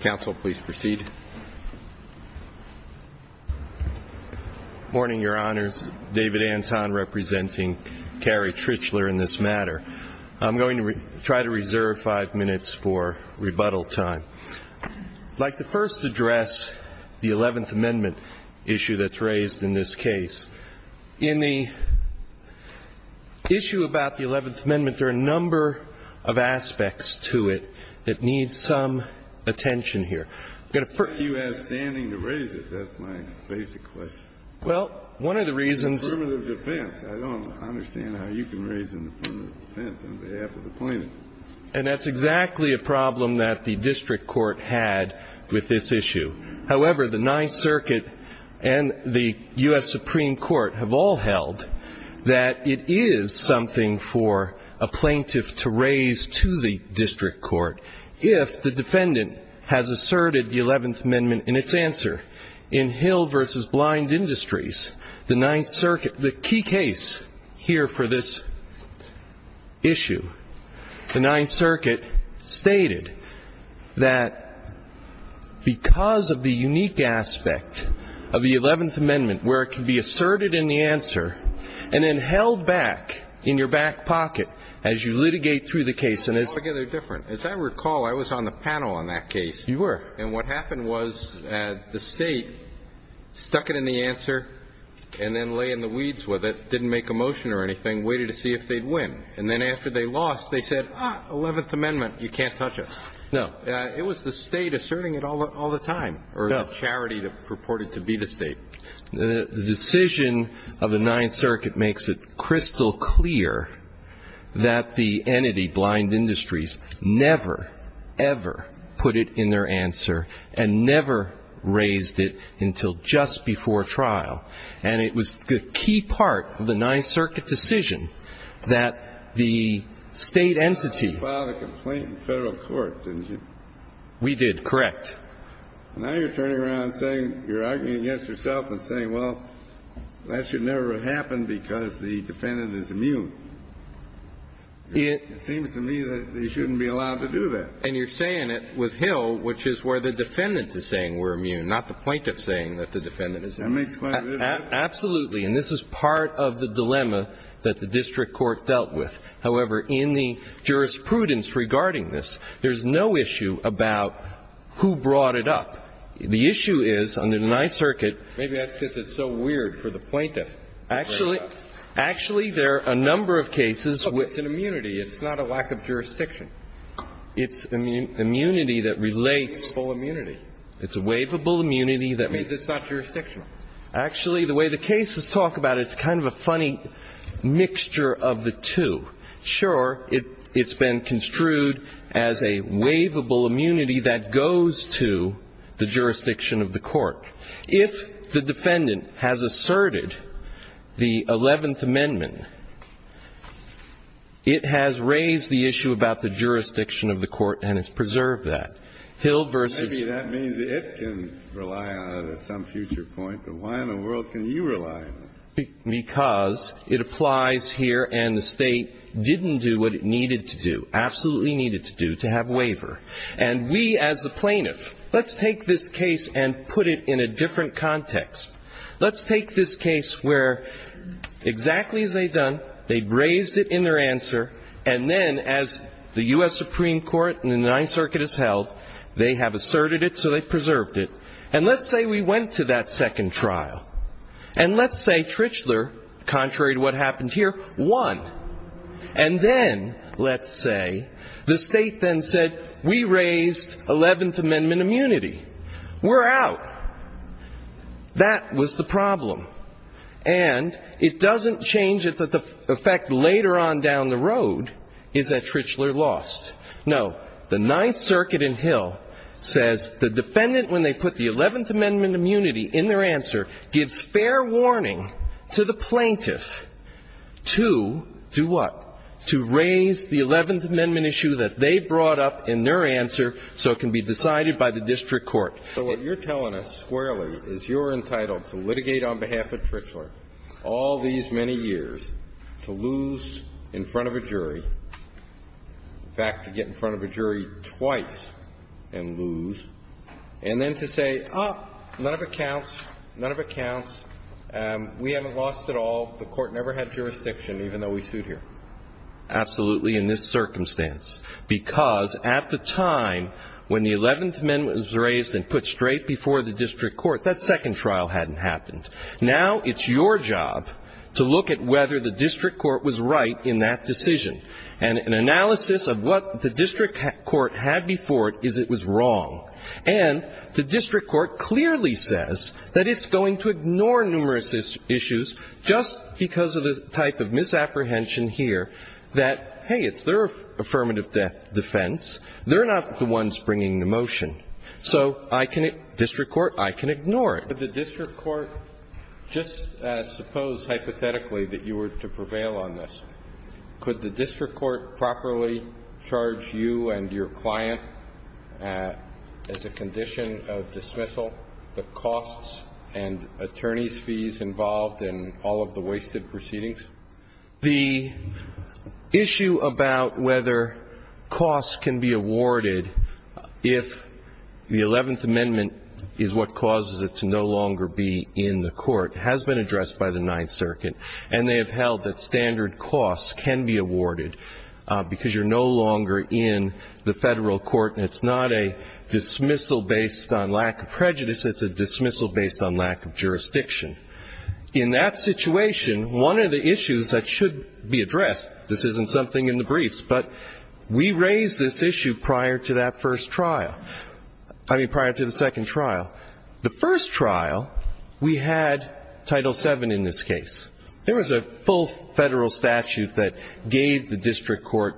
Council, please proceed. Good morning, Your Honors. David Anton, representing Carrie Tritchler in this matter. I'm going to try to reserve five minutes for rebuttal time. I'd like to first address the 11th Amendment issue that's raised in this case. In the issue about the 11th Amendment, there are a number of aspects to it that need some attention here. Why are you outstanding to raise it? That's my basic question. Well, one of the reasons... It's affirmative defense. I don't understand how you can raise an affirmative defense on behalf of the plaintiff. And that's exactly a problem that the district court had with this issue. However, the Ninth Circuit and the U.S. Supreme Court have all held that it is something for a plaintiff to raise to the district court if the defendant has asserted the 11th Amendment in its answer. In Hill v. Blind Industries, the Ninth Circuit... The Ninth Circuit stated that because of the unique aspect of the 11th Amendment where it can be asserted in the answer and then held back in your back pocket as you litigate through the case... It's altogether different. As I recall, I was on the panel on that case. You were. And what happened was the state stuck it in the answer and then lay in the weeds with it, didn't make a motion or anything, waited to see if they'd win. And then after they lost, they said, ah, 11th Amendment, you can't touch it. No. It was the state asserting it all the time or the charity that purported to be the state. The decision of the Ninth Circuit makes it crystal clear that the entity, Blind Industries, never, ever put it in their answer and never raised it until just before trial. And it was the key part of the Ninth Circuit decision that the state entity... You filed a complaint in federal court, didn't you? We did. Correct. Now you're turning around and saying, you're arguing against yourself and saying, well, that should never have happened because the defendant is immune. It seems to me that they shouldn't be allowed to do that. And you're saying it with Hill, which is where the defendant is saying we're immune, not the plaintiff saying that the defendant is immune. That makes quite a bit of sense. Absolutely. And this is part of the dilemma that the district court dealt with. However, in the jurisprudence regarding this, there's no issue about who brought it up. The issue is, under the Ninth Circuit... Maybe that's because it's so weird for the plaintiff to bring it up. Actually there are a number of cases with... Look, it's an immunity. It's not a lack of jurisdiction. It's immunity that relates... It's a waivable immunity. It's a waivable immunity that... That means it's not jurisdictional. Actually the way the cases talk about it, it's kind of a funny mixture of the two. Sure, it's been construed as a waivable immunity that goes to the jurisdiction of the court. If the defendant has asserted the Eleventh Amendment, it has raised the issue about the jurisdiction of the court and has preserved that. Hill versus... At some future point. But why in the world can you rely on it? Because it applies here and the state didn't do what it needed to do, absolutely needed to do, to have waiver. And we as the plaintiff, let's take this case and put it in a different context. Let's take this case where exactly as they've done, they've raised it in their answer, and then as the U.S. Supreme Court and the Ninth Circuit has held, they have asserted it so they've preserved it. And let's say we went to that second trial. And let's say Trichler, contrary to what happened here, won. And then, let's say, the state then said, we raised Eleventh Amendment immunity. We're out. That was the problem. And it doesn't change it that the effect later on down the road is that Trichler lost. No. The Ninth Circuit in Hill says the defendant, when they put the Eleventh Amendment immunity in their answer, gives fair warning to the plaintiff to do what? To raise the Eleventh Amendment issue that they brought up in their answer so it can be decided by the district court. So what you're telling us squarely is you're entitled to litigate on behalf of Trichler all these many years to lose in front of a jury, in fact, to get in front of a jury twice and lose, and then to say, oh, none of it counts, none of it counts, we haven't lost at all, the court never had jurisdiction, even though we sued here. Absolutely in this circumstance. Because at the time when the Eleventh Amendment was raised and put straight before the district court, that second trial hadn't happened. Now it's your job to look at whether the district court was right in that decision. And an analysis of what the district court had before it is it was wrong. And the district court clearly says that it's going to ignore numerous issues just because of the type of misapprehension here that, hey, it's their affirmative defense, they're not the ones bringing the motion. So I can – district court, I can ignore it. Could the district court just suppose hypothetically that you were to prevail on this? Could the district court properly charge you and your client as a condition of dismissal the costs and attorney's fees involved in all of the wasted proceedings? The issue about whether costs can be awarded if the Eleventh Amendment is what causes it to no longer be in the court has been addressed by the Ninth Circuit. And they have held that standard costs can be awarded because you're no longer in the federal court and it's not a dismissal based on lack of prejudice, it's a dismissal based on lack of jurisdiction. In that situation, one of the issues that should be addressed – this isn't something in the briefs, but we raised this issue prior to that first trial – I mean, prior to the second trial. The first trial, we had Title VII in this case. There was a full federal statute that gave the district court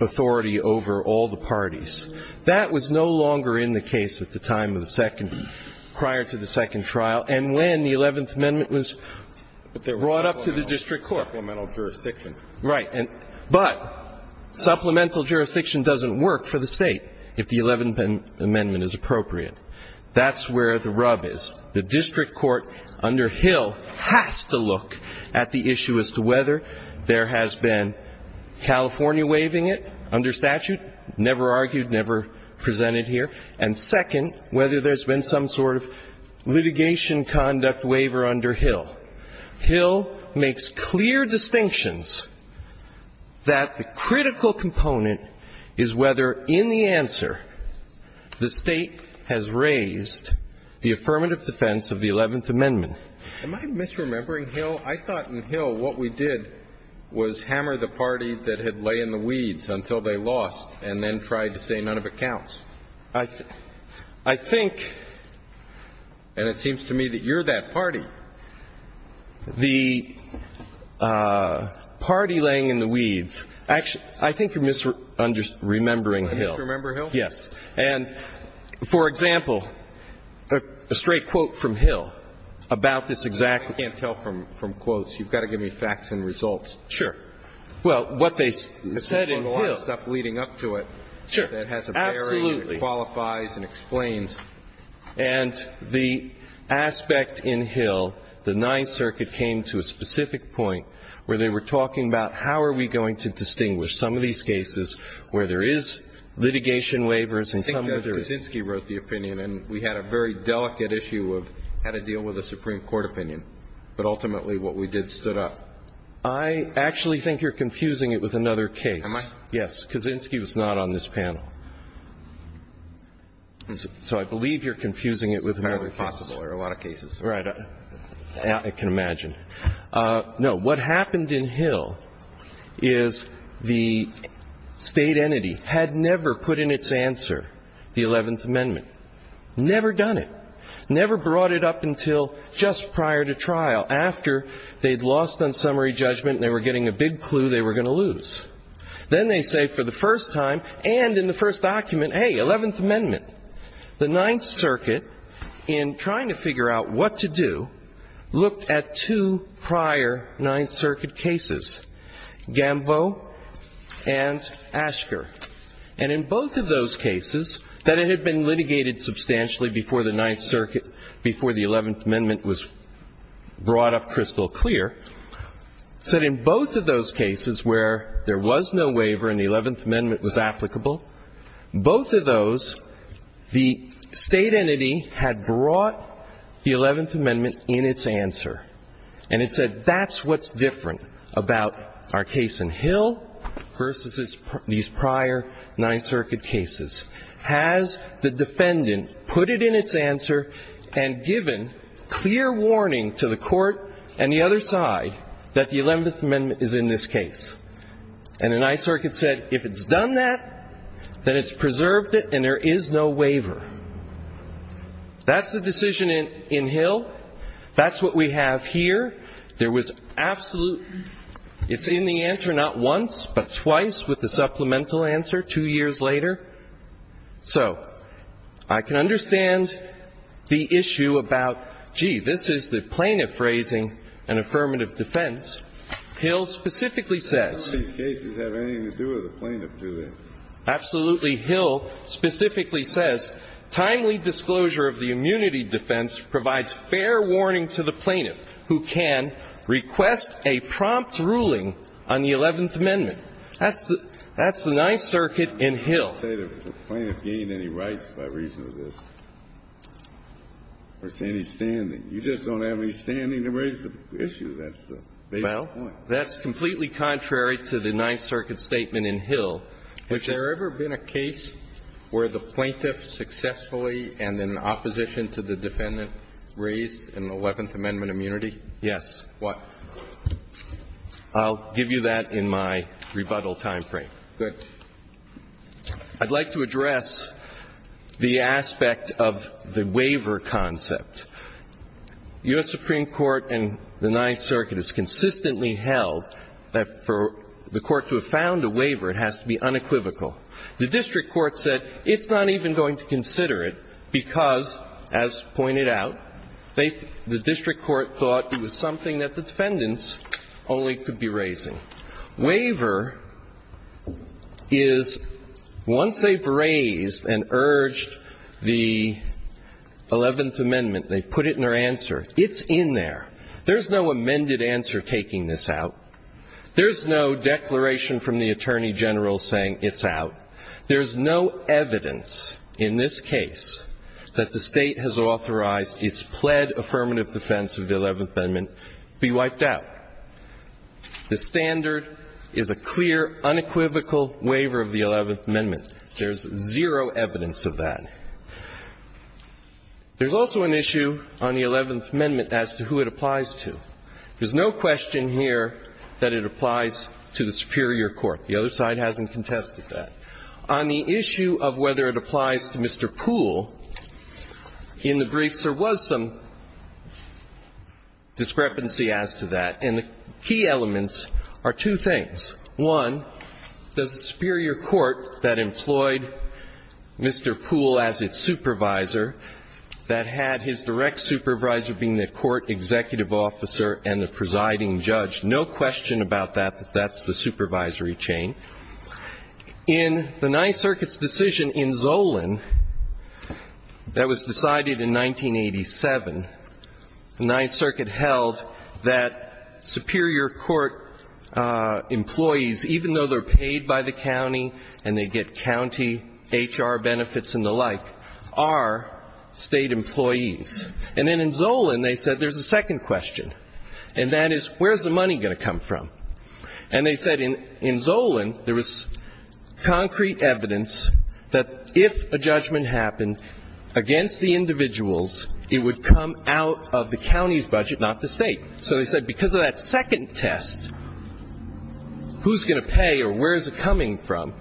authority over all the parties. That was no longer in the case at the time of the second – prior to the second trial. And when the Eleventh Amendment was brought up to the district court. Supplemental jurisdiction. Right. But supplemental jurisdiction doesn't work for the State if the Eleventh Amendment is appropriate. That's where the rub is. The district court under Hill has to look at the issue as to whether there has been California waiving it under statute. Never argued, never presented here. And second, whether there's been some sort of litigation conduct waiver under Hill. Hill makes clear distinctions that the critical component is whether in the answer the State has raised the affirmative defense of the Eleventh Amendment. Am I misremembering Hill? I thought in Hill what we did was hammer the party that had lay in the weeds until they lost and then tried to say none of it counts. I think – And it seems to me that you're that party. The party laying in the weeds – actually, I think you're misremembering Hill. Am I misremembering Hill? Yes. And, for example, a straight quote from Hill about this exact – I can't tell from quotes. You've got to give me facts and results. Sure. Well, what they said in Hill – This is one of the stuff leading up to it that has a bearing, qualifies and explains. Sure. Absolutely. And the aspect in Hill, the Ninth Circuit came to a specific point where they were talking about how are we going to distinguish some of these cases where there is litigation waivers and some where there is – I think that Kaczynski wrote the opinion, and we had a very delicate issue of how to deal with a Supreme Court opinion. But ultimately, what we did stood up. I actually think you're confusing it with another case. Am I? Yes. Kaczynski was not on this panel. So I believe you're confusing it with another case. It's probably possible there are a lot of cases. Right. I can imagine. No. What happened in Hill is the State entity had never put in its answer the Eleventh Amendment, never done it, never brought it up until just prior to trial, after they'd lost on summary judgment and they were getting a big clue they were going to lose. Then they say for the first time, and in the first document, hey, Eleventh Amendment. The Ninth Circuit, in trying to figure out what to do, looked at two prior Ninth Circuit cases, Gamboe and Asker. And in both of those cases, that it had been litigated substantially before the Ninth Circuit, before the Eleventh Amendment was brought up crystal clear, said in both of those cases where there was no waiver and the Eleventh Amendment was applicable, both of those, the State entity had brought the Eleventh Amendment in its answer. And it said, that's what's different about our case in Hill versus these prior Ninth Circuit cases. Has the defendant put it in its answer and given clear warning to the court and the other side that the Eleventh Amendment is in this case? And the Ninth Circuit said, if it's done that, then it's preserved it and there is no waiver. That's the decision in Hill. That's what we have here. There was absolute, it's in the answer not once, but twice with the supplemental answer two years later. So, I can understand the issue about, gee, this is the plaintiff raising an affirmative defense. Hill specifically says- These cases have anything to do with the plaintiff, do they? Absolutely. Hill specifically says, timely disclosure of the immunity defense provides fair warning to the plaintiff who can request a prompt ruling on the Eleventh Amendment. That's the Ninth Circuit in Hill. I don't say that the plaintiff gained any rights by reason of this, or it's any standing. You just don't have any standing to raise the issue, that's the basic point. Well, that's completely contrary to the Ninth Circuit statement in Hill, which is- Has there ever been a case where the plaintiff successfully and in opposition to the defendant raised an Eleventh Amendment immunity? Yes. What? I'll give you that in my rebuttal time frame. Good. I'd like to address the aspect of the waiver concept. The U.S. Supreme Court and the Ninth Circuit has consistently held that for the court to have found a waiver, it has to be unequivocal. The district court said it's not even going to consider it because, as pointed out, the district court thought it was something that the defendants only could be raising. Waiver is, once they've raised and urged the Eleventh Amendment, they put it in their answer, it's in there. There's no amended answer taking this out. There's no declaration from the Attorney General saying it's out. There's no evidence in this case that the state has authorized its pled affirmative defense of the Eleventh Amendment be wiped out. The standard is a clear, unequivocal waiver of the Eleventh Amendment. There's zero evidence of that. There's also an issue on the Eleventh Amendment as to who it applies to. There's no question here that it applies to the superior court. The other side hasn't contested that. On the issue of whether it applies to Mr. Poole, in the briefs, there was some discrepancy as to that, and the key elements are two things. One, the superior court that employed Mr. Poole as its supervisor, that had his direct supervisor being the court executive officer and the presiding judge. No question about that, that that's the supervisory chain. In the Ninth Circuit's decision in Zolan, that was decided in 1987, the Ninth Circuit held that superior court employees, even though they're paid by the county and they get county HR benefits and the like, are state employees. And then in Zolan, they said there's a second question, and that is, where's the money going to come from? And they said in Zolan, there was concrete evidence that if a judgment happened against the individuals, it would come out of the county's budget, not the state. So they said, because of that second test, who's going to pay or where's it coming from?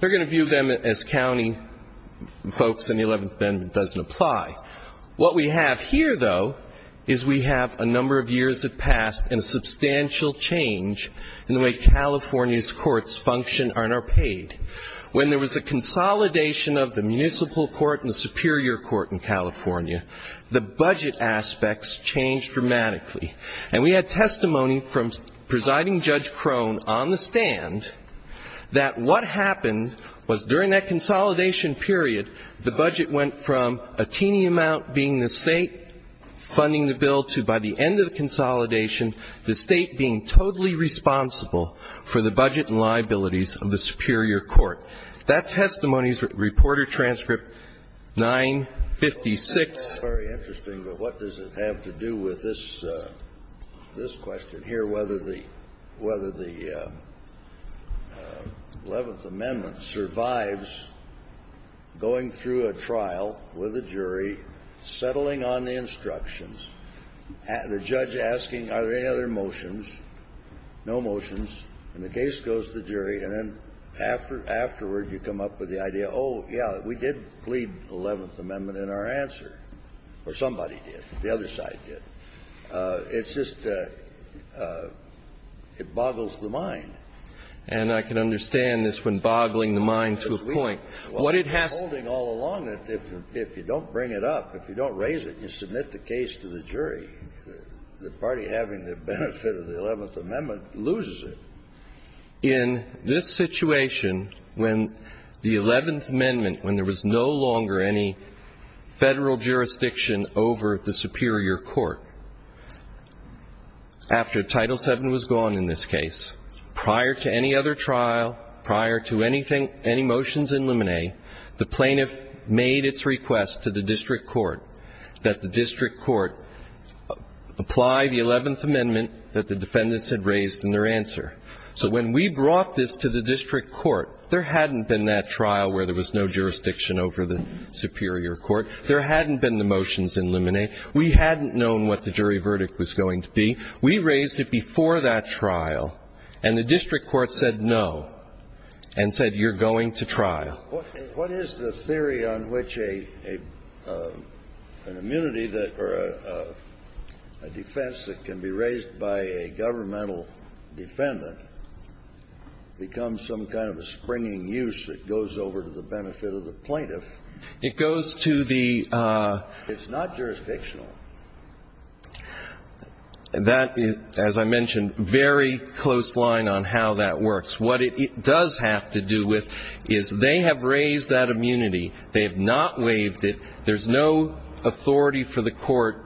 They're going to view them as county folks, and the Eleventh Amendment doesn't apply. What we have here, though, is we have a number of years have passed and substantial change in the way California's courts function and are paid. When there was a consolidation of the municipal court and the superior court in California, the budget aspects changed dramatically. And we had testimony from Presiding Judge Crone on the stand that what happened was during that consolidation period, the budget went from a teeny amount being the state funding the bill to, by the end of the consolidation, the state being totally responsible for the budget and liabilities of the superior court. That testimony's reporter transcript 956. Very interesting, but what does it have to do with this question here, whether the Eleventh Amendment survives going through a trial with a jury, settling on the instructions, the judge asking are there any other motions, no motions, and the case goes to the jury, and then afterward you come up with the idea, oh, yeah, we did plead Eleventh Amendment in our answer, or somebody did, the other side did. And I can understand this one boggling the mind to a point. What it has to do — We're holding all along that if you don't bring it up, if you don't raise it, you submit the case to the jury. The party having the benefit of the Eleventh Amendment loses it. In this situation, when the Eleventh Amendment, when there was no longer any Federal jurisdiction over the superior court, after Title VII was gone in this case, prior to any other trial, prior to anything, any motions in limine, the plaintiff made its request to the district court that the district court apply the Eleventh Amendment that the defendants had raised in their answer. So when we brought this to the district court, there hadn't been that trial where there was no jurisdiction over the superior court. There hadn't been the motions in limine. We hadn't known what the jury verdict was going to be. We raised it before that trial. And the district court said, no, and said, you're going to trial. What is the theory on which an immunity that, or a defense that can be raised by a governmental defendant becomes some kind of a springing use that goes over to the benefit of the plaintiff? It goes to the — It's not jurisdictional. That is, as I mentioned, very close line on how that works. What it does have to do with is they have raised that immunity. They have not waived it. There's no authority for the court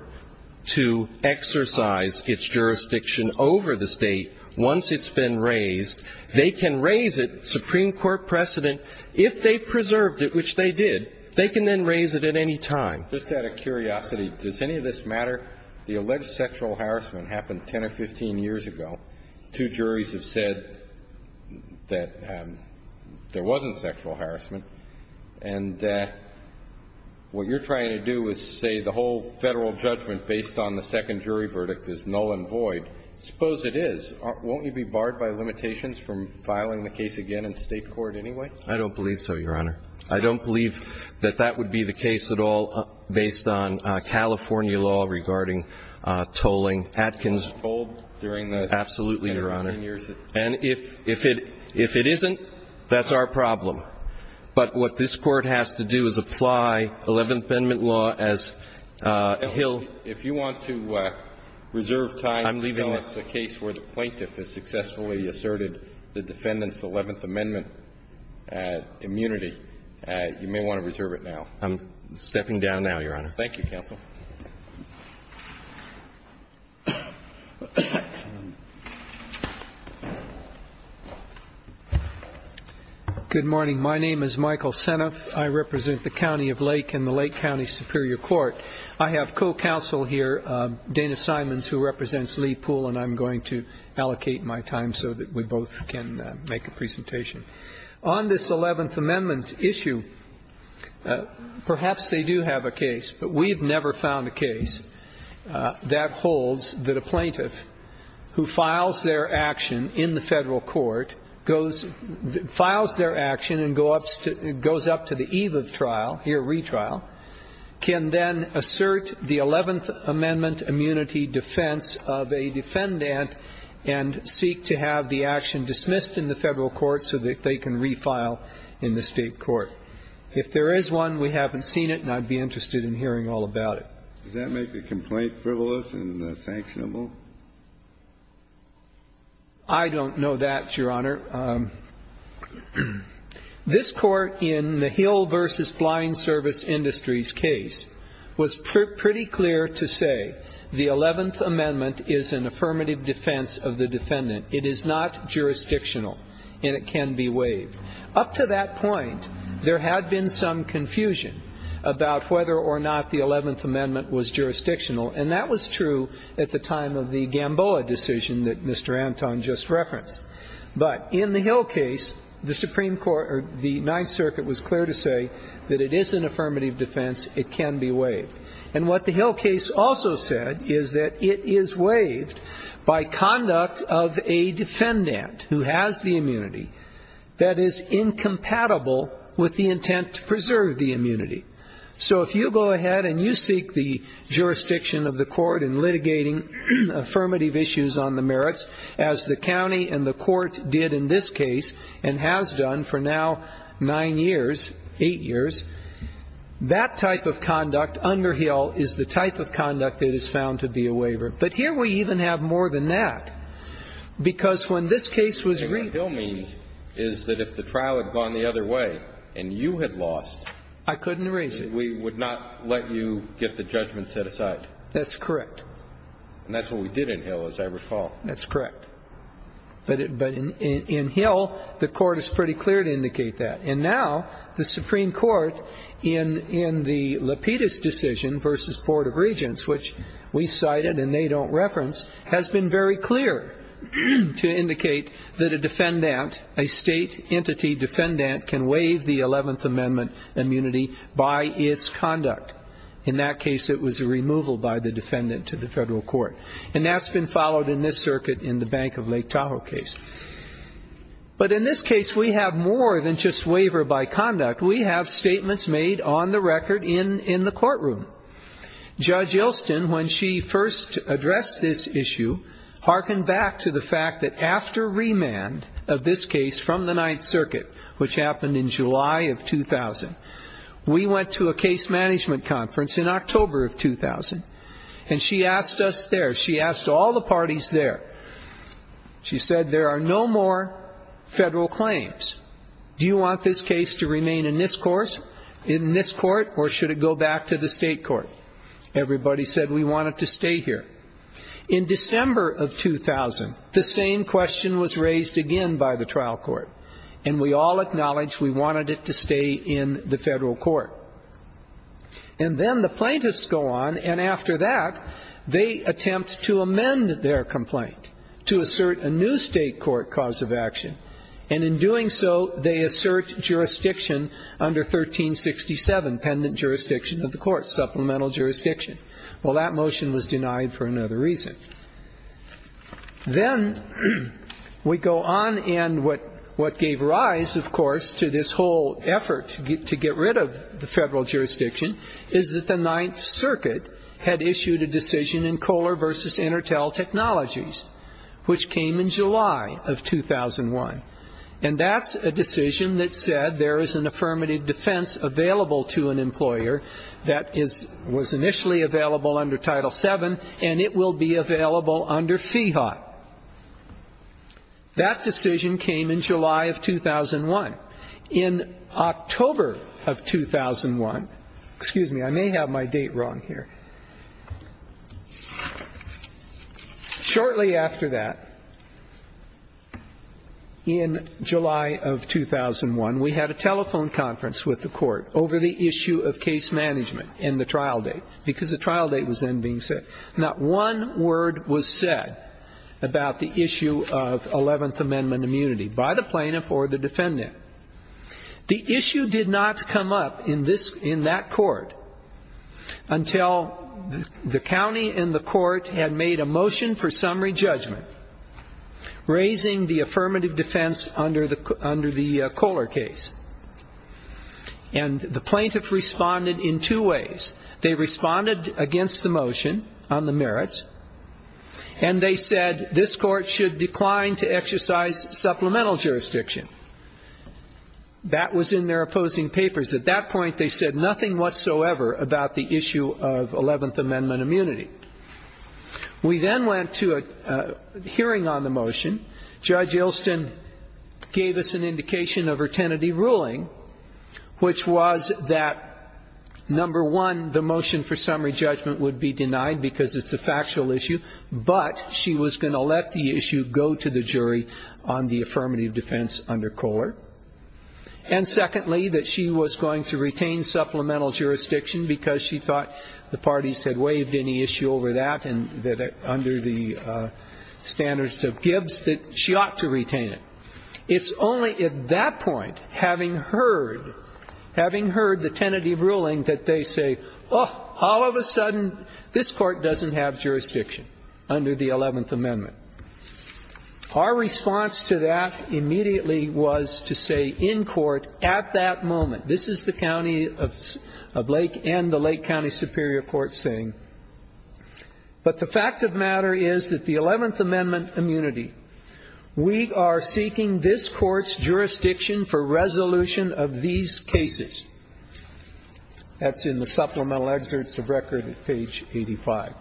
to exercise its jurisdiction over the state once it's been raised. They can raise it, Supreme Court precedent, if they preserved it, which they did. They can then raise it at any time. Just out of curiosity, does any of this matter? The alleged sexual harassment happened 10 or 15 years ago. Two juries have said that there wasn't sexual harassment. And what you're trying to do is say the whole federal judgment based on the second jury verdict is null and void. Suppose it is. Won't you be barred by limitations from filing the case again in state court anyway? I don't believe so, Your Honor. I don't believe that that would be the case at all based on California law regarding tolling, Atkins told during the — Absolutely, Your Honor. — 10 or 15 years. And if it — if it isn't, that's our problem. But what this Court has to do is apply Eleventh Amendment law as Hill — If you want to reserve time — I'm leaving —— until it's a case where the plaintiff has successfully asserted the defendant's Eleventh Amendment immunity, you may want to reserve it now. I'm stepping down now, Your Honor. Thank you, counsel. Good morning. My name is Michael Seneff. I represent the County of Lake and the Lake County Superior Court. I have co-counsel here, Dana Simons, who represents Lee Poole, and I'm going to allocate my time so that we both can make a presentation. On this Eleventh Amendment issue, perhaps they do have a case, but we've never found a case that holds that a plaintiff who files their action in the federal court, goes — files their action and goes up to the eve of trial, here, retrial, can then assert the Eleventh Amendment immunity defense of a defendant and seek to have the action dismissed in the federal court so that they can refile in the state court. If there is one, we haven't seen it, and I'd be interested in hearing all about it. Does that make the complaint frivolous and sanctionable? I don't know that, Your Honor. This Court, in the Hill v. Blind Service Industries case, was pretty clear to say the Eleventh Amendment is an affirmative defense of the defendant. It is not jurisdictional, and it can be waived. Up to that point, there had been some confusion about whether or not the Eleventh Amendment was jurisdictional, and that was true at the time of the Gamboa decision that Mr. Anton just referenced. But in the Hill case, the Supreme Court — or the Ninth Circuit was clear to say that it is an affirmative defense. It can be waived. And what the Hill case also said is that it is waived by conduct of a defendant who has the immunity that is incompatible with the intent to preserve the immunity. So if you go ahead and you seek the jurisdiction of the court in litigating affirmative issues on the merits, as the county and the court did in this case, and has done for now nine years, eight years, that type of conduct under Hill is the type of conduct that is found to be a waiver. But here we even have more than that, because when this case was — And what Hill means is that if the trial had gone the other way and you had lost — I couldn't erase it. — we would not let you get the judgment set aside. That's correct. And that's what we did in Hill, as I recall. That's correct. But in Hill, the court is pretty clear to indicate that. And now the Supreme Court, in the Lapidus decision versus Board of Regents, which we cited and they don't reference, has been very clear to indicate that a defendant, a state entity defendant, can waive the Eleventh Amendment immunity by its conduct. In that case, it was a removal by the defendant to the federal court. And that's been followed in this circuit in the Bank of Lake Tahoe case. But in this case, we have more than just waiver by conduct. We have statements made on the record in the courtroom. Judge Yelston, when she first addressed this issue, hearkened back to the fact that after remand of this case from the Ninth Circuit, which happened in July of 2000, we went to a case management conference in October of 2000. And she asked us there, she asked all the parties there, she said, there are no more federal claims. Do you want this case to remain in this court or should it go back to the state court? Everybody said we want it to stay here. In December of 2000, the same question was raised again by the trial court. And we all acknowledged we wanted it to stay in the federal court. And then the plaintiffs go on, and after that, they attempt to amend their complaint to assert a new state court cause of action, and in doing so, they assert jurisdiction under 1367, pendant jurisdiction of the court, supplemental jurisdiction. Well, that motion was denied for another reason. Then we go on and what gave rise, of course, to this whole effort to get rid of the federal jurisdiction, is that the Ninth Circuit had issued a decision in Kohler versus Intertel Technologies, which came in July of 2001, and that's a decision that said there is an affirmative defense available to an employer that was initially available under Title VII, and it will be available under FIHOT. That decision came in July of 2001. In October of 2001, excuse me, I may have my date wrong here. Shortly after that, in July of 2001, we had a telephone conference with the court over the issue of case management and the trial date, because the trial date was then being set. Not one word was said about the issue of 11th Amendment immunity by the plaintiff or the defendant. The issue did not come up in that court until the county and the court had made a motion for summary judgment, raising the affirmative defense under the Kohler case. And the plaintiff responded in two ways. They responded against the motion on the merits, and they said this court should decline to exercise supplemental jurisdiction. That was in their opposing papers. At that point, they said nothing whatsoever about the issue of 11th Amendment immunity. We then went to a hearing on the motion. Judge Ilston gave us an indication of her tenaty ruling, which was that, number one, the motion for summary judgment would be denied because it's a factual issue, but she was going to let the issue go to the jury on the affirmative defense under Kohler. And secondly, that she was going to retain supplemental jurisdiction because she thought the parties had waived any issue over that under the standards of Gibbs, that she ought to retain it. It's only at that point, having heard the tenaty ruling, that they say, all of a sudden, this court doesn't have jurisdiction under the 11th Amendment. Our response to that immediately was to say in court at that moment, this is the County of Lake and the Lake County Superior Court saying, but the fact of the matter is that the 11th Amendment immunity, we are seeking this court's jurisdiction for resolution of these cases. That's in the supplemental excerpts of record at page 85.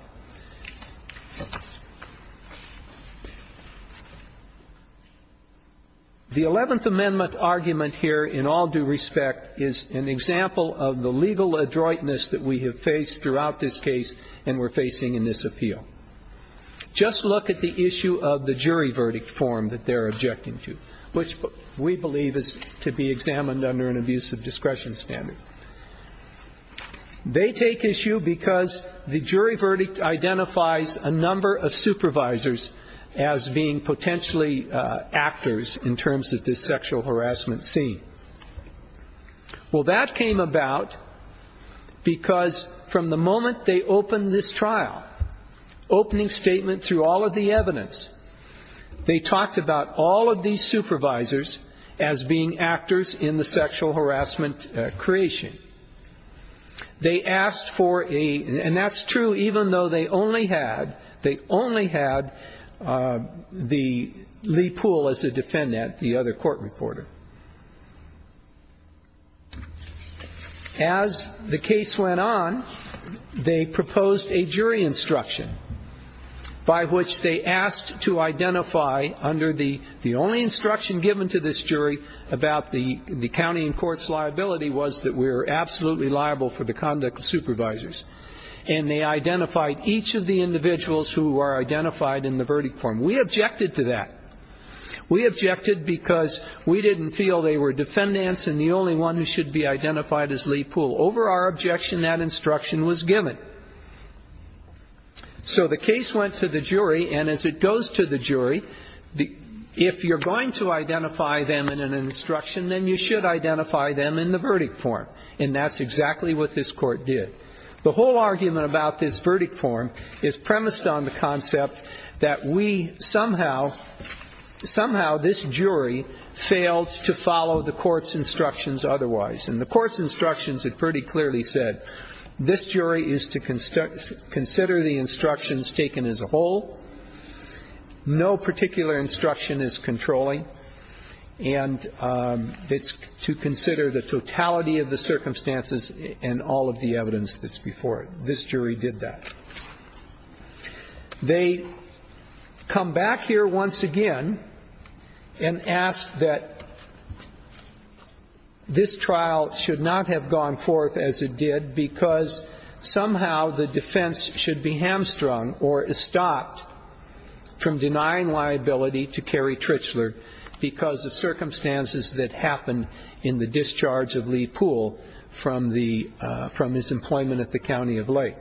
The 11th Amendment argument here, in all due respect, is an example of the legal adroitness that we have faced throughout this case and we're facing in this appeal. Just look at the issue of the jury verdict form that they're objecting to, which we believe is to be examined under an abuse of discretion standard. It identifies a number of supervisors as being potentially actors in terms of this sexual harassment scene. Well, that came about because from the moment they opened this trial, opening statement through all of the evidence, they talked about all of these supervisors as being actors in the sexual harassment creation. They asked for a, and that's true even though they only had the Lee Poole as a defendant, the other court reporter. As the case went on, they proposed a jury instruction by which they asked to identify under the only instruction given to this jury about the county and absolutely liable for the conduct of supervisors. And they identified each of the individuals who are identified in the verdict form. We objected to that. We objected because we didn't feel they were defendants and the only one who should be identified as Lee Poole. Over our objection, that instruction was given. So the case went to the jury, and as it goes to the jury, if you're going to identify them in an instruction, then you should identify them in the verdict form. And that's exactly what this court did. The whole argument about this verdict form is premised on the concept that we somehow, somehow this jury failed to follow the court's instructions otherwise. And the court's instructions had pretty clearly said, this jury is to consider the instructions taken as a whole. No particular instruction is controlling. And it's to consider the totality of the circumstances and all of the evidence that's before it. This jury did that. They come back here once again and ask that this trial should not have gone forth as it did, because somehow the defense should be hamstrung or distraught from denying liability to Kerry Trichler because of circumstances that happened in the discharge of Lee Poole from his employment at the county of Lake.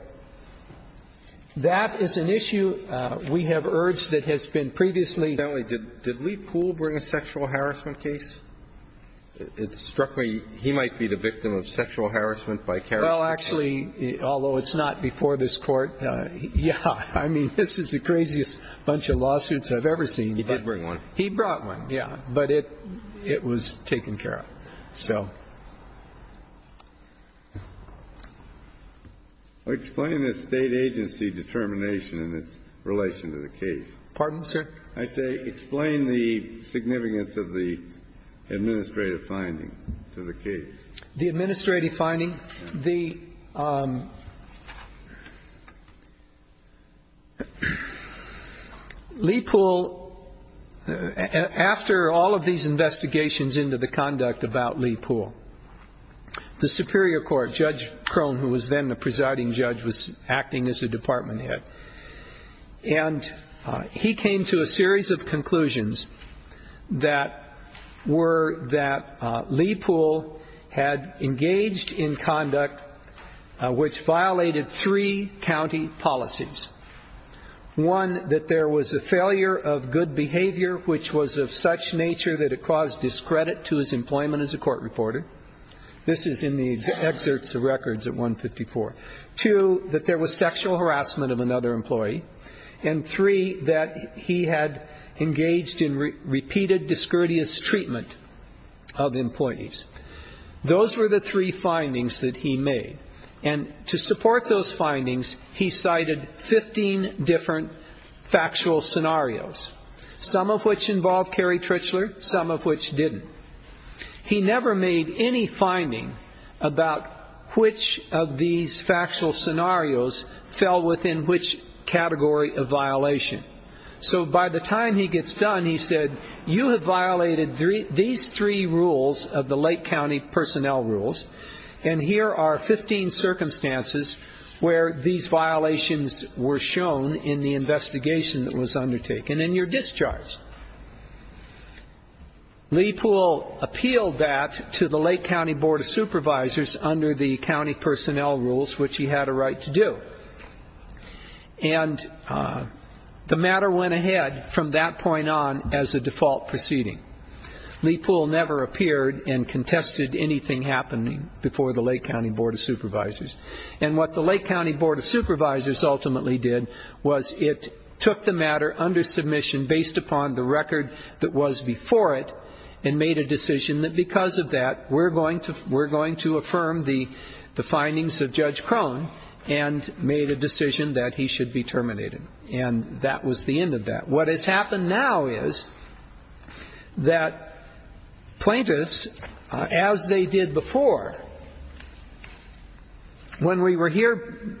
That is an issue we have urged that has been previously- Did Lee Poole bring a sexual harassment case? It struck me he might be the victim of sexual harassment by Kerry. Well, actually, although it's not before this court, yeah. I mean, this is the craziest bunch of lawsuits I've ever seen. He did bring one. He brought one, yeah. But it was taken care of, so. Explain the State agency determination in its relation to the case. Pardon, sir? I say explain the significance of the administrative finding to the case. The administrative finding? Lee Poole, after all of these investigations into the conduct about Lee Poole, the Superior Court, Judge Krohn, who was then the presiding judge, was acting as a department head, and he came to a series of conclusions that were that Lee Poole had engaged in conduct which violated three county policies. One, that there was a failure of good behavior which was of such nature that it caused discredit to his employment as a court reporter. This is in the excerpts of records at 154. Two, that there was sexual harassment of another employee. And three, that he had engaged in repeated, discourteous treatment of employees. Those were the three findings that he made. And to support those findings, he cited 15 different factual scenarios, some of which involved Carrie Trichler, some of which didn't. He never made any finding about which of these factual scenarios fell within which category of violation. So by the time he gets done, he said, you have violated these three rules of the Lake County Personnel Rules. And here are 15 circumstances where these violations were shown in the investigation that was undertaken, and you're discharged. Lee Poole appealed that to the Lake County Board of Supervisors under the County Personnel Rules, which he had a right to do. And the matter went ahead from that point on as a default proceeding. Lee Poole never appeared and contested anything happening before the Lake County Board of Supervisors. And what the Lake County Board of Supervisors ultimately did was it took the matter under submission based upon the record that was before it. And made a decision that because of that, we're going to affirm the findings of Judge Crone, and made a decision that he should be terminated. And that was the end of that. What has happened now is that plaintiffs, as they did before, when we were here,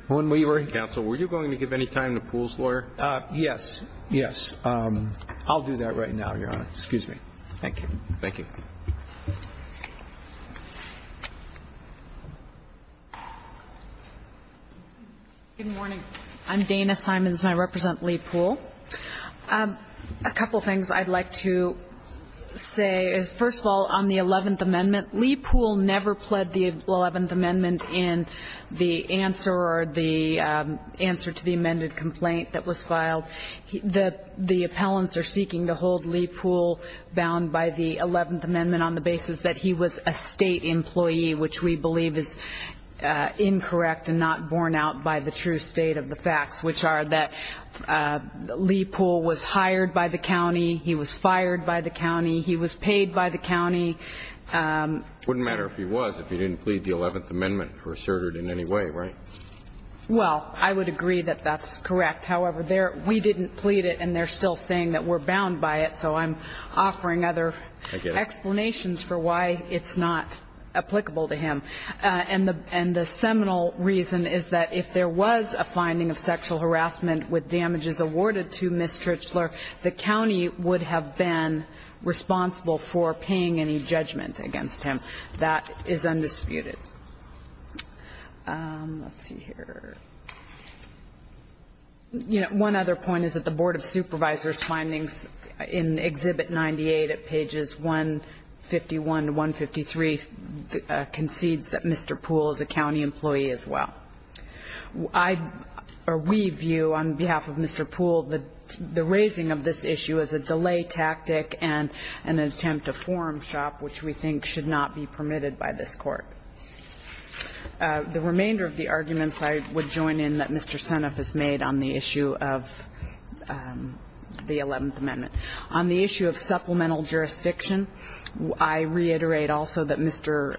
when we were- Counsel, were you going to give any time to Poole's lawyer? Yes, yes. I'll do that right now, Your Honor. Excuse me. Thank you. Thank you. Good morning. I'm Dana Simons, and I represent Lee Poole. A couple things I'd like to say is, first of all, on the 11th amendment, Lee Poole never pled the 11th amendment in the answer or the answer to the amended complaint that was filed. The appellants are seeking to hold Lee Poole bound by the 11th amendment on the basis that he was a state employee, which we believe is incorrect and not borne out by the true state of the facts, which are that Lee Poole was hired by the county, he was fired by the county, he was paid by the county. Wouldn't matter if he was, if he didn't plead the 11th amendment or assert it in any way, right? Well, I would agree that that's correct. However, we didn't plead it, and they're still saying that we're bound by it. So I'm offering other explanations for why it's not applicable to him. And the seminal reason is that if there was a finding of sexual harassment with damages awarded to Ms. Trichler, the county would have been responsible for paying any judgment against him. That is undisputed. Let's see here. One other point is that the Board of Supervisors' findings in Exhibit 98 at pages 151 to 153 concedes that Mr. Poole is a county employee as well. We view on behalf of Mr. Poole the raising of this issue as a delay tactic and an attempt to form shop, which we think should not be permitted by this court. The remainder of the arguments I would join in that Mr. Seneff has made on the issue of the 11th amendment. On the issue of supplemental jurisdiction, I reiterate also that Mr.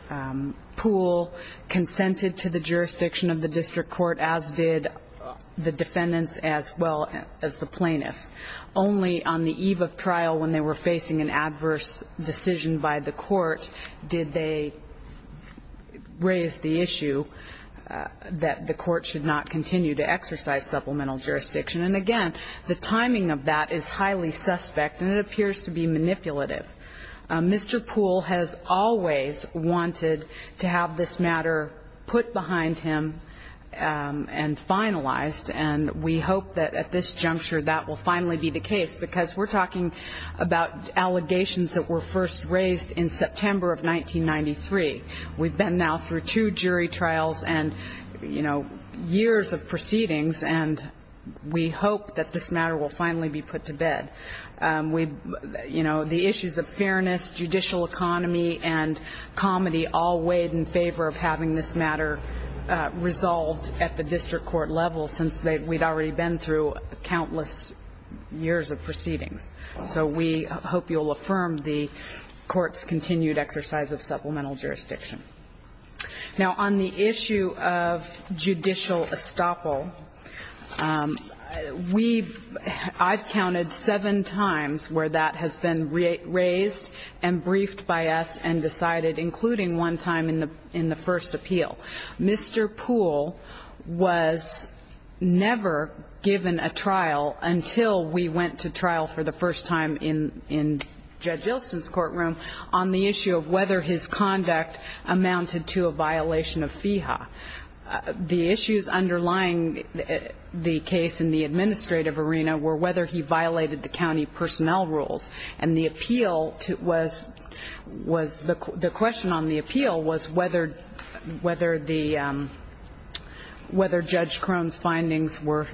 Poole consented to the jurisdiction of the district court as did the defendants as well as the plaintiffs. Only on the eve of trial when they were facing an adverse decision by the court did they raise the issue that the court should not continue to exercise supplemental jurisdiction. And again, the timing of that is highly suspect and it appears to be manipulative. Mr. Poole has always wanted to have this matter put behind him and finalized. And we hope that at this juncture that will finally be the case because we're talking about allegations that were first raised in September of 1993. We've been now through two jury trials and years of proceedings and we hope that this matter will finally be put to bed. The issues of fairness, judicial economy, and comedy all weighed in favor of having this matter resolved at the district court level since we'd already been through countless years of proceedings. So we hope you'll affirm the court's continued exercise of supplemental jurisdiction. Now on the issue of judicial estoppel, I've counted seven times where that has been raised and briefed by us and decided, including one time in the first appeal. Mr. Poole was never given a trial until we went to trial for the first time in Judge Ilsen's courtroom on the issue of whether his conduct amounted to a violation of FEHA. The issues underlying the case in the administrative arena were whether he violated the county personnel rules. And the appeal was, the question on the appeal was whether Judge Crone's findings were,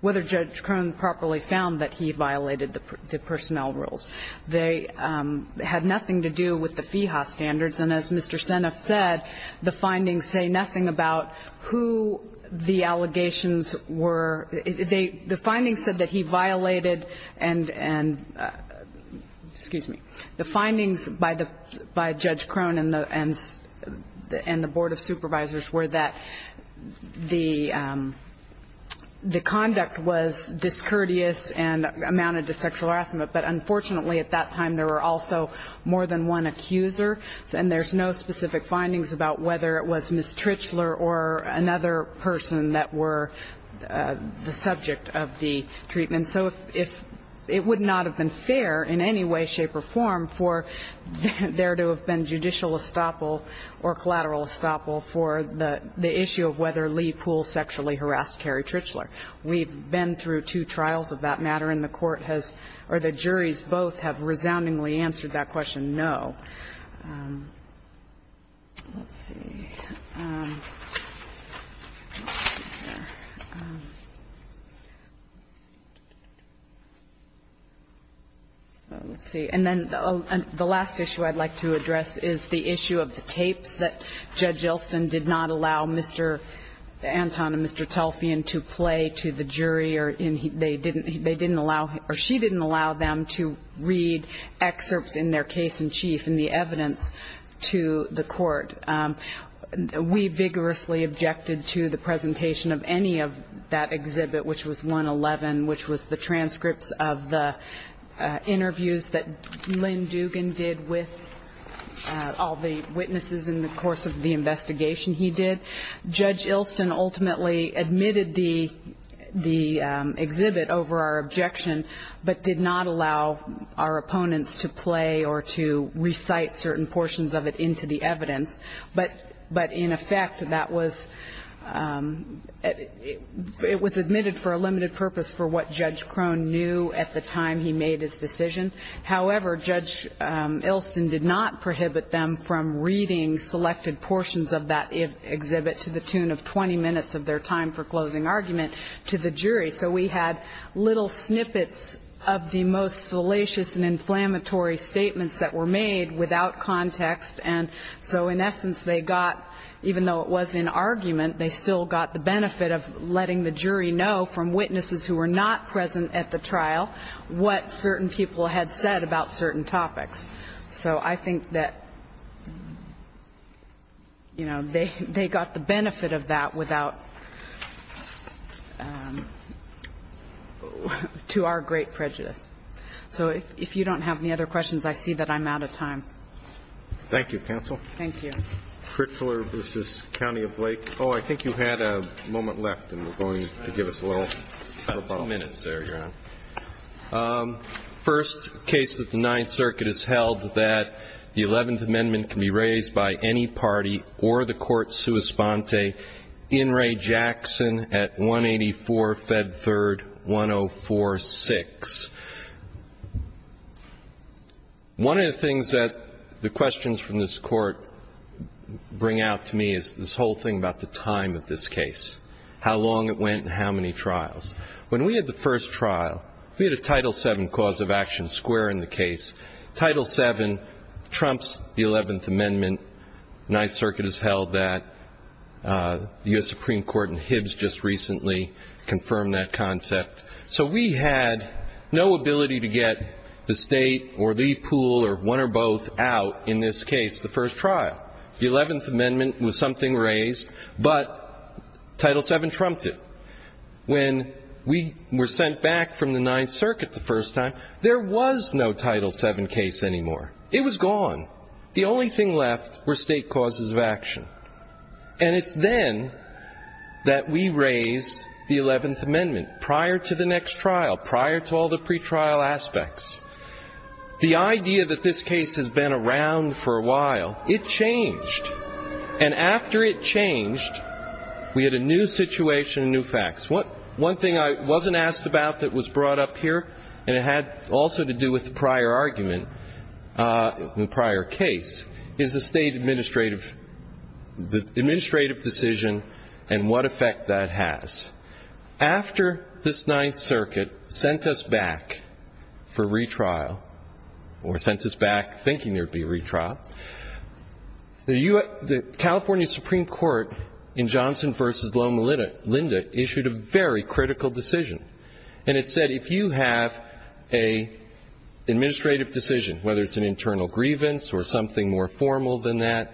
whether Judge Crone properly found that he violated the personnel rules. They had nothing to do with the FEHA standards. And as Mr. Seneff said, the findings say nothing about who the allegations were. The findings said that he violated and, excuse me, the findings by Judge Crone and the Board of Supervisors were that the conduct was discourteous and amounted to sexual harassment. But unfortunately, at that time, there were also more than one accuser. And there's no specific findings about whether it was Ms. Trichler or another person that were the subject of the treatment. And so if, it would not have been fair in any way, shape, or form for there to have been judicial estoppel or collateral estoppel for the issue of whether Lee Poole sexually harassed Carrie Trichler. We've been through two trials of that matter, and the court has, or the juries both have resoundingly answered that question, no. Let's see. And then the last issue I'd like to address is the issue of the tapes that Judge Elston did not allow Mr. Anton and Mr. Telfian to play to the jury. They didn't allow, or she didn't allow them to read excerpts in their case in chief and the evidence to the court. We vigorously objected to the presentation of any of that exhibit, which was 111, which was the transcripts of the interviews that Lynn Dugan did with all the witnesses in the course of the investigation he did. Judge Elston ultimately admitted the exhibit over our objection, but did not allow our opponents to play or to recite certain portions of it into the evidence. But in effect, it was admitted for a limited purpose for what Judge Crone knew at the time he made his decision. However, Judge Elston did not prohibit them from reading selected portions of that exhibit to the tune of 20 minutes of their time for closing argument to the jury. So we had little snippets of the most salacious and inflammatory statements that were made without context. And so in essence, they got, even though it was in argument, they still got the benefit of letting the jury know from witnesses who were not present at the trial what certain people had said about certain topics. So I think that they got the benefit of that without, to our great prejudice. So if you don't have any other questions, I see that I'm out of time. Thank you, counsel. Thank you. Pritzler versus County of Lake. I think you had a moment left and we're going to give us a little. About two minutes there, Your Honor. First case of the Ninth Circuit is held that the 11th Amendment can be raised by any party or the court sui sponte in Ray Jackson at 184, Fed 3rd, 1046. One of the things that the questions from this court bring out to me is this whole thing about the time of this case, how long it went and how many trials. When we had the first trial, we had a Title VII cause of action square in the case. Title VII trumps the 11th Amendment. Ninth Circuit has held that. The US Supreme Court in Hibbs just recently confirmed that concept. So we had no ability to get the state or the pool or one or both out in this case, the first trial. The 11th Amendment was something raised, but Title VII trumped it. When we were sent back from the Ninth Circuit the first time, there was no Title VII case anymore. It was gone. The only thing left were state causes of action. And it's then that we raised the 11th Amendment prior to the next trial, prior to all the pretrial aspects. The idea that this case has been around for a while, it changed. And after it changed, we had a new situation and new facts. One thing I wasn't asked about that was brought up here, and it had also to do with the prior argument, the prior case, is the state administrative decision and what effect that has. After this Ninth Circuit sent us back for retrial, or sent us back thinking there'd be a retrial, the California Supreme Court in Johnson versus Loma Linda issued a very critical decision, and it said if you have a administrative decision, whether it's an internal grievance or something more formal than that,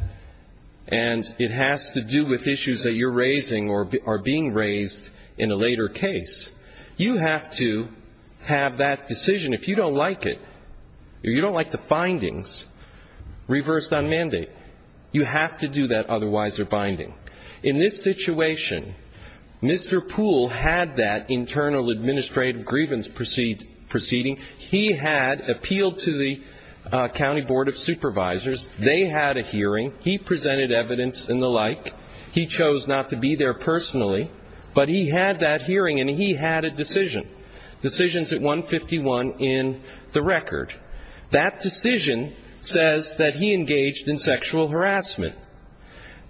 and it has to do with issues that you're raising or are being raised in a later case, you have to have that decision, if you don't like it, or you don't like the findings, reversed on mandate. You have to do that otherwise or binding. In this situation, Mr. Poole had that internal administrative grievance proceeding. He had appealed to the County Board of Supervisors. They had a hearing. He presented evidence and the like. He chose not to be there personally. But he had that hearing, and he had a decision. Decisions at 151 in the record. That decision says that he engaged in sexual harassment.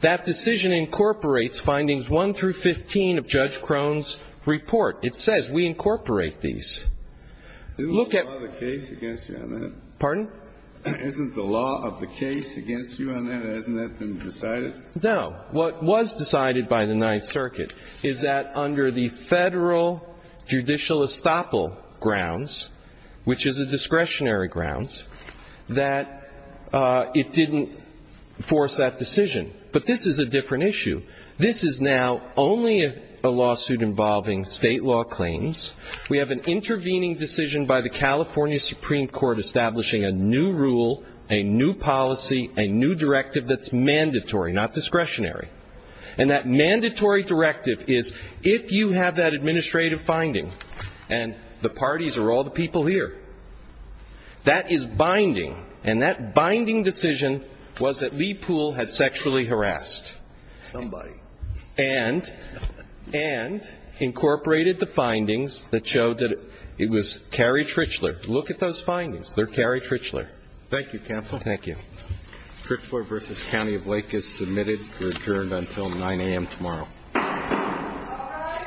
That decision incorporates findings one through 15 of Judge Crone's report. It says we incorporate these. Look at- Isn't the law of the case against you on that? Pardon? Isn't the law of the case against you on that? Hasn't that been decided? No. What was decided by the Ninth Circuit is that under the federal judicial estoppel grounds, which is a discretionary grounds, that it didn't force that decision. But this is a different issue. This is now only a lawsuit involving state law claims. We have an intervening decision by the California Supreme Court establishing a new rule, a new policy, a new directive that's mandatory, not discretionary. And that mandatory directive is if you have that administrative finding, and the parties are all the people here, that is binding. And that binding decision was that Lee Poole had sexually harassed. Somebody. And incorporated the findings that showed that it was Carrie Trichler. Look at those findings. They're Carrie Trichler. Thank you, counsel. Thank you. Trichler versus County of Lake is submitted. You're adjourned until 9 AM tomorrow. All rise. The court is presented to stand adjourned.